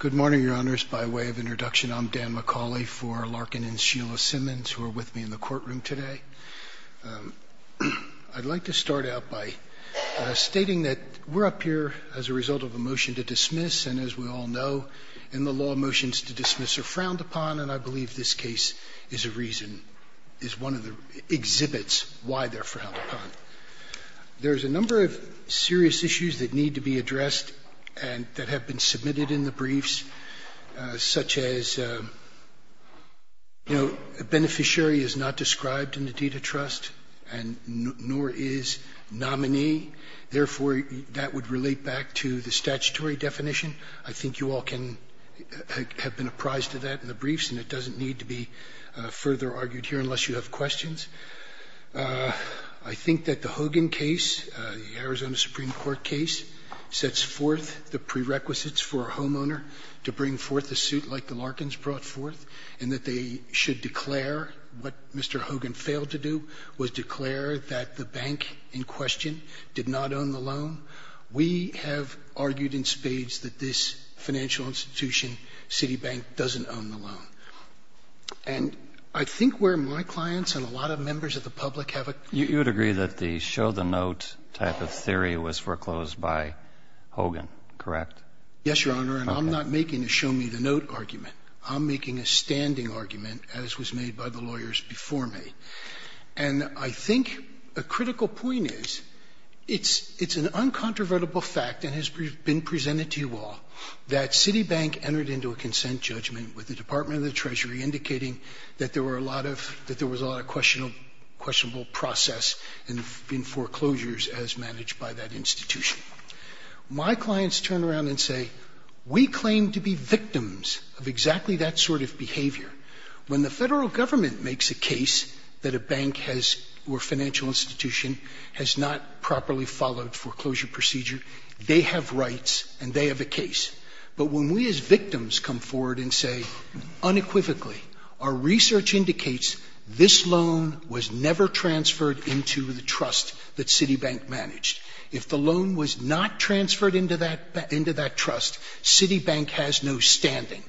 Good morning, Your Honors. By way of introduction, I'm Dan McCauley for Larkin and Sheila Simmons, who are with me in the courtroom today. I'd like to start out by stating that we're up here as a result of a motion to dismiss, and as we all know, in the law, motions to dismiss are frowned upon, and I believe this case is a reason, is one of the exhibits why they're addressed and that have been submitted in the briefs, such as, you know, a beneficiary is not described in the deed of trust, and nor is nominee. Therefore, that would relate back to the statutory definition. I think you all can have been apprised of that in the briefs, and it doesn't need to be further argued here unless you have questions. I think that the Hogan case, the Arizona Supreme Court case, sets forth the prerequisites for a homeowner to bring forth a suit like the Larkins brought forth, and that they should declare what Mr. Hogan failed to do, was declare that the bank in question did not own the loan. We have argued in spades that this financial institution, Citibank, doesn't own the loan. And I think where my clients and a lot of members of the public have a— You would agree that the show-the-note type of theory was foreclosed by Hogan, correct? Yes, Your Honor, and I'm not making a show-me-the-note argument. I'm making a standing argument, as was made by the lawyers before me. And I think a critical point is, it's an uncontrovertible fact, and has been presented to you all, that Citibank entered into a consent judgment with the Department of the Treasury indicating that there was a lot of questionable process in foreclosures as managed by that institution. My clients turn around and say, we claim to be victims of exactly that sort of behavior. When the federal government makes a case that a bank or financial institution has not properly followed foreclosure procedure, they have rights and they have a case. But when we as victims come forward and say, unequivocally, our research indicates this loan was never transferred into the trust that Citibank managed. If the loan was not transferred into that trust, Citibank has no standing.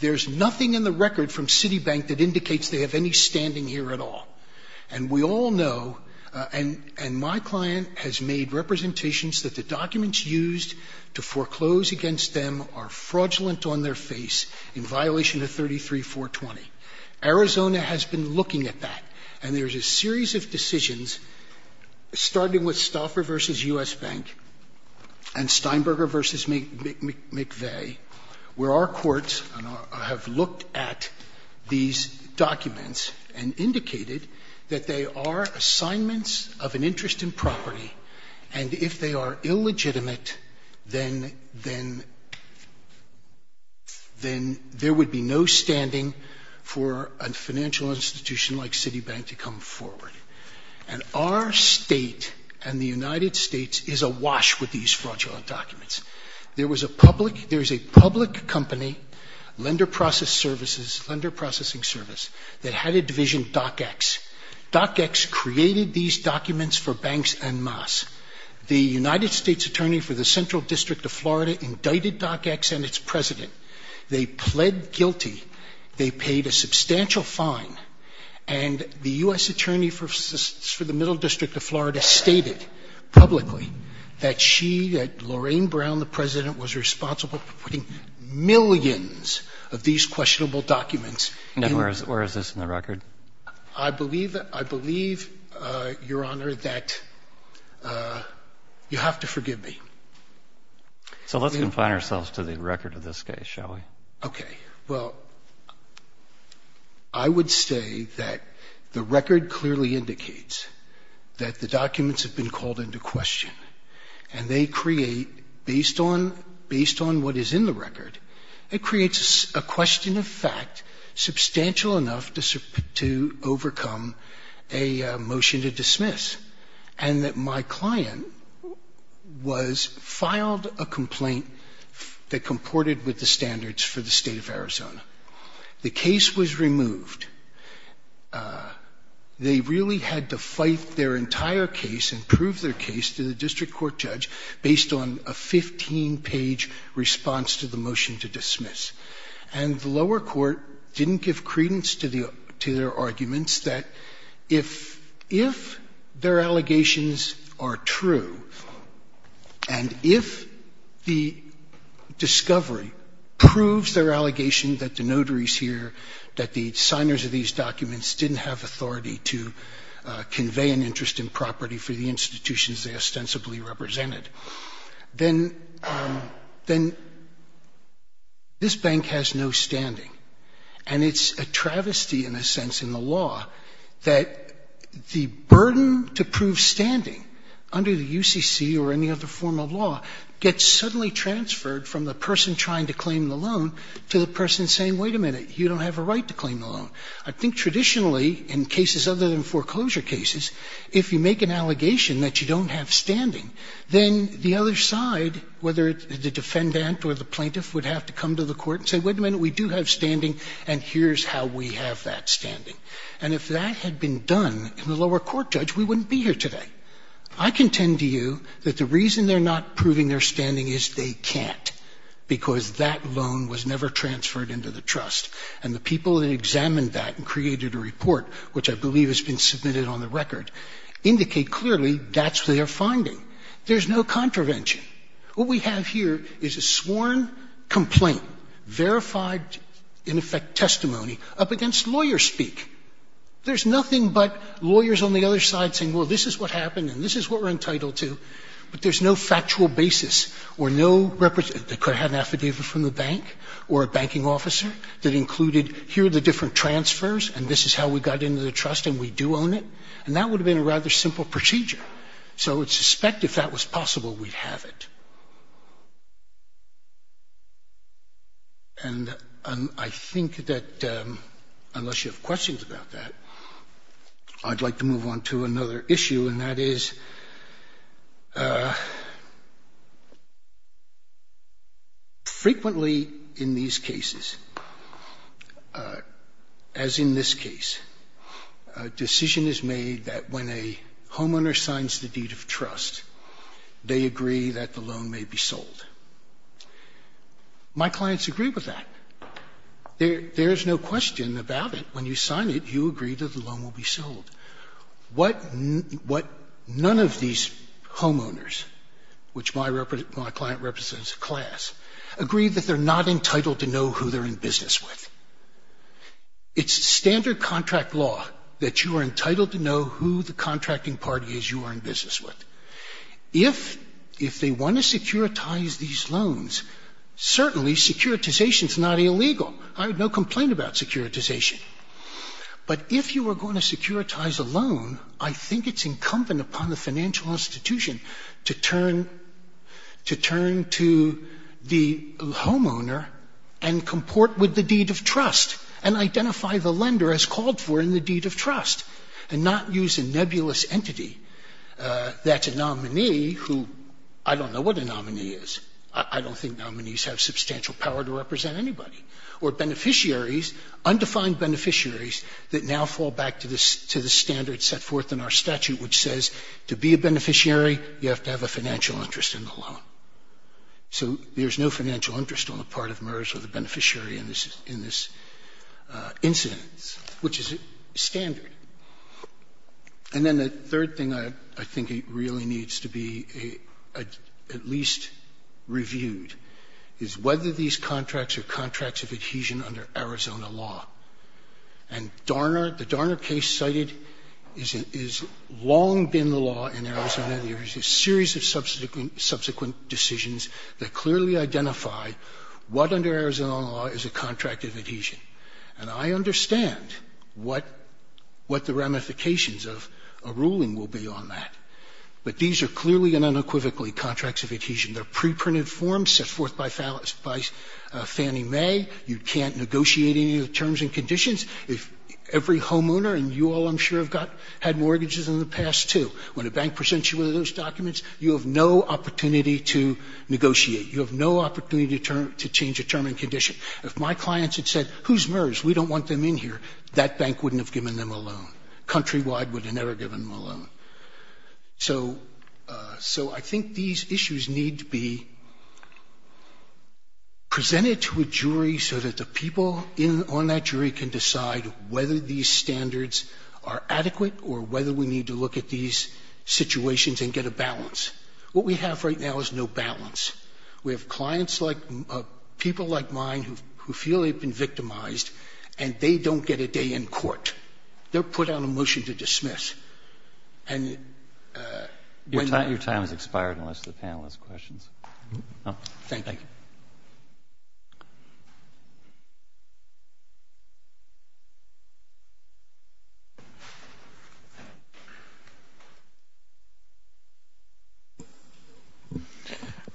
There's nothing in the record from Citibank that indicates they have any standing here at all. And we against them are fraudulent on their face in violation of 33-420. Arizona has been looking at that. And there's a series of decisions, starting with Stauffer v. U.S. Bank and Steinberger v. McVeigh, where our courts have looked at these documents and indicated that they are assignments of an interest in property. And if they are illegitimate, then there would be no standing for a financial institution like Citibank to come forward. And our state and the United States is awash with these fraudulent documents. There was a public company, lender processing service, that had a division, DocX. DocX created these documents for banks en masse. The United States Attorney for the Central District of Florida indicted DocX and its president. They pled guilty. They paid a substantial fine. And the U.S. Attorney for the Middle District of Florida stated publicly that she, that Lorraine Brown, the of these questionable documents. And where is this in the record? I believe, I believe, Your Honor, that you have to forgive me. So let's confine ourselves to the record of this case, shall we? Okay. Well, I would say that the record clearly indicates that the documents have been called into question. And they create, based on, based on what is in the record, it creates a question of fact substantial enough to, to overcome a motion to dismiss. And that my client was, filed a complaint that comported with the standards for the state of Arizona. The case was removed. They really had to fight their entire case and prove their case to the district court judge based on a 15-page response to the motion to dismiss. And the lower court didn't give credence to the, to their arguments that if, if their allegation that the notaries here, that the signers of these documents didn't have authority to convey an interest in property for the institutions they ostensibly represented, then, then this bank has no standing. And it's a travesty, in a sense, in the law that the burden to prove standing under the UCC or any other form of law gets suddenly transferred from the person trying to claim the loan to the person saying, wait a minute, you don't have a right to claim the loan. I think traditionally, in cases other than foreclosure cases, if you make an allegation that you don't have standing, then the other side, whether it's the defendant or the plaintiff, would have to come to the court and say, wait a minute, we do have standing and here's how we have that standing. And if that had been done in the lower court judge, we wouldn't be here today. I contend to you that the reason they're not proving their standing is they can't, because that loan was never transferred into the trust. And the people that examined that and created a report, which I believe has been submitted on the record, indicate clearly that's their finding. There's no contravention. What we have here is a sworn complaint, verified in effect testimony, up against lawyer speak. There's nothing but lawyers on the other side saying, well, this is what happened and this is what we're entitled to. But there's no factual basis or no representation. They could have had an affidavit from the bank or a banking officer that included, here are the different transfers and this is how we got into the trust and we do own it. And that would have been a rather simple procedure. So I would suspect if that was possible, we'd have it. And I think that, unless you have questions about that, I'd like to move on to another issue, and that is, frequently in these cases, as in this case, a decision is made that when a homeowner signs the deed of trust, they agree that the loan may be sold. My clients agree with that. There is no question about it. When you sign it, you agree that the loan will be sold. What none of these homeowners, which my client represents a class, agree that they're not entitled to know who they're in business with. It's standard contract law that you are entitled to know who the contracting party is you are in business with. If they want to securitize these loans, certainly securitization is not illegal. I have no complaint about securitization. But if you are going to securitize a loan, I think it's incumbent upon the financial institution to turn to the homeowner and comport with the deed of trust, and identify the lender as called for in the deed of trust, and not use a nebulous entity that's a nominee who I don't know what a nominee is. I don't think nominees have substantial power to represent anybody. Or beneficiaries, undefined beneficiaries, that now fall back to the standard set forth in our statute, which says, to be a beneficiary, you have to have a financial interest in the loan. So there's no financial interest on the part of MERS or the beneficiary in this incidence, which is standard. And then the third thing I think really needs to be at least reviewed is whether these contracts are contracts of adhesion under Arizona law. And Darner, the Darner case cited, has long been the law in Arizona. There is a series of subsequent decisions that clearly identify what under Arizona law is a contract of adhesion. And I understand what the ramifications of a ruling will be on that. But these are clearly and unequivocally contracts of adhesion. They're pre-printed forms set forth by Fannie Mae. You can't negotiate any of the terms and conditions. If every homeowner, and you all I'm sure have had mortgages in the past too, when a bank presents you with those documents, you have no opportunity to negotiate. You have no opportunity to change a term and condition. If my clients had said, whose MERS? We don't want them in here, that bank wouldn't have given them a loan. Countrywide would be presented to a jury so that the people on that jury can decide whether these standards are adequate or whether we need to look at these situations and get a balance. What we have right now is no balance. We have clients like, people like mine who feel they've been victimized and they don't get a day in court. They're put on a motion to dismiss. Your time has expired unless the panel has questions. Thank you.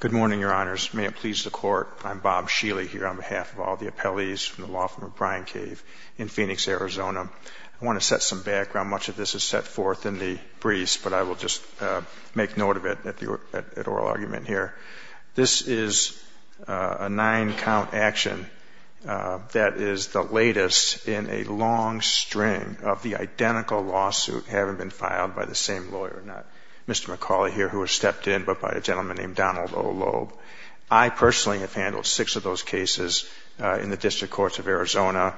Good morning, Your Honors. May it please the Court, I'm Bob Sheely here on behalf of all the appellees from the law firm of Brian Cave in Phoenix, Arizona. I want to set some background. Much of this is set forth in the briefs, but I will just make note of it at oral argument here. This is a nine-count action that is the latest in a long string of the identical lawsuit having been filed by the same lawyer, not Mr. McCauley here who has stepped in, but by a gentleman named Donald O. Loeb. I personally have handled six of those cases in the District Courts of Arizona.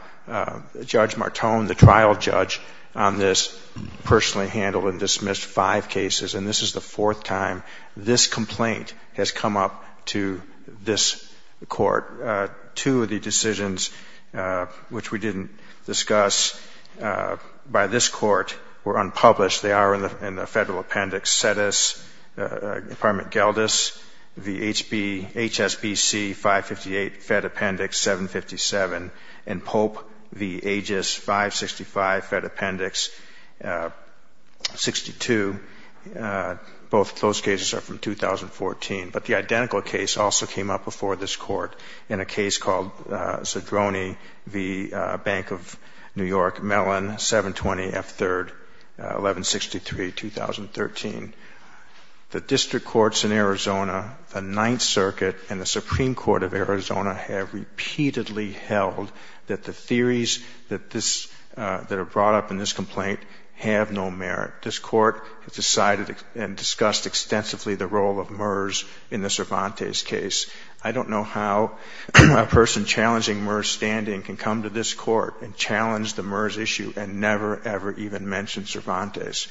Judge Martone, the trial judge on this, personally handled and dismissed five cases, and this is the fourth time this complaint has come up to this Court. Two of the decisions which we didn't discuss by this Court were unpublished. They are in the Federal Appendix Sedis, the HSBC 558, Fed Appendix 757, and Pope v. Aegis 565, Fed Appendix 62. Both of those cases are from 2014. But the identical case also came up before this Court in a case called Zadroni v. Bank of New York, Mellon 720 F3rd 1163, 2013. The District Courts in Arizona, the Ninth Circuit and the Supreme Court of Arizona have repeatedly held that the theories that are brought up in this complaint have no merit. This Court has decided and discussed extensively the role of MERS in the Cervantes case. I don't know how a person challenging MERS standing can come to this Court and challenge the MERS issue and never, ever even mention Cervantes.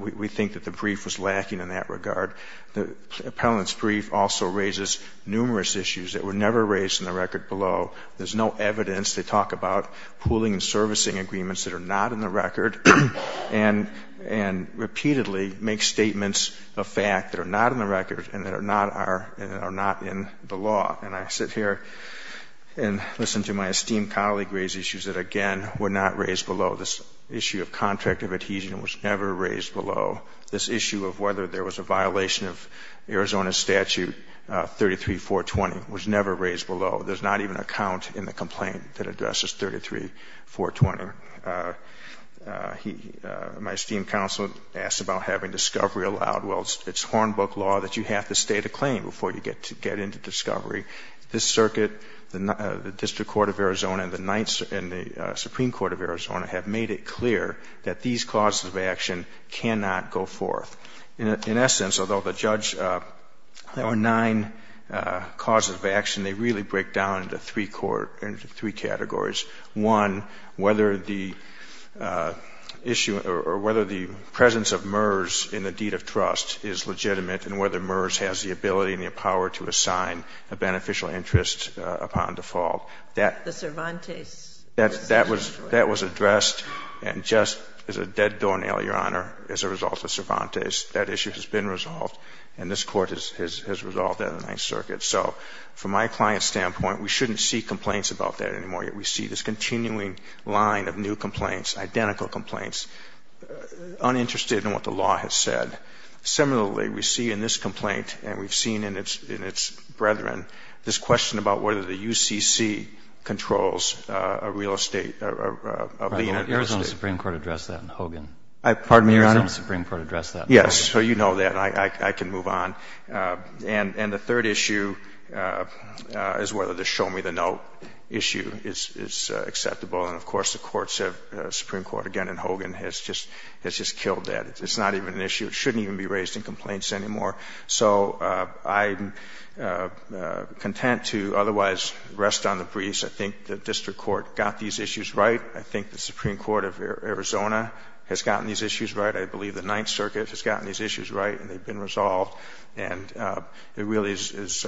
We think that the brief was lacking in that regard. The appellant's brief also raises numerous issues that were never raised in the record below. There's no evidence. They talk about pooling and servicing agreements that are not in the record, and repeatedly make statements of fact that are not in the record and that are not in the law. And I sit here and listen to my esteemed colleague raise issues that, again, were not raised below. This issue of contract of adhesion was never raised below. This issue of whether there was a violation of Arizona statute 33-420 was never raised below. There's not even a count in the complaint that addresses 33-420. My esteemed counselor asked about having discovery allowed. Well, it's Hornbook law that you have to state a claim before you get into discovery. This Circuit, the District Court of Arizona and the Ninth and the Supreme Court of Arizona have made it clear that these clauses of action cannot go forth. In essence, although the judge or nine clauses of action, they really break down into three categories. One, whether the issue or whether the presence of MERS in the deed of trust is legitimate and whether MERS has the ability and the power to assign a beneficial interest upon default. That was addressed and just as a dead doornail, Your Honor, as a result of Cervantes, that issue has been resolved and this Court has resolved that in the Ninth Circuit. So from my client's standpoint, we shouldn't see complaints about that anymore, yet we see this continuing line of new complaints, identical complaints, uninterested in what the law has said. Similarly, we see in this complaint and we've seen in its brethren, this question about whether the UCC controls a real estate of the United States. The Arizona Supreme Court addressed that in Hogan. Pardon me, Your Honor? The Arizona Supreme Court addressed that in Hogan. Yes, so you know that. I can move on. And the third issue is whether the show-me-the-note issue is acceptable. And of course, the Supreme Court again in Hogan has just killed that. It's not even an issue. It shouldn't even be raised in complaints anymore. So I'm content to otherwise rest on the breeze. I think the district court got these issues right. I think the Supreme Court of Arizona has gotten these issues right. I believe the Ninth Circuit has gotten these issues right and they've been resolved. And there really is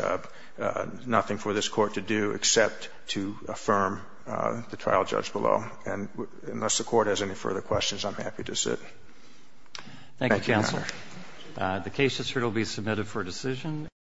nothing for this Court to do except to affirm the trial judge below. And unless the Court has any further questions, I'm happy to sit. Thank you, Your Honor. Thank you, Your Honor. The case will be submitted for decision.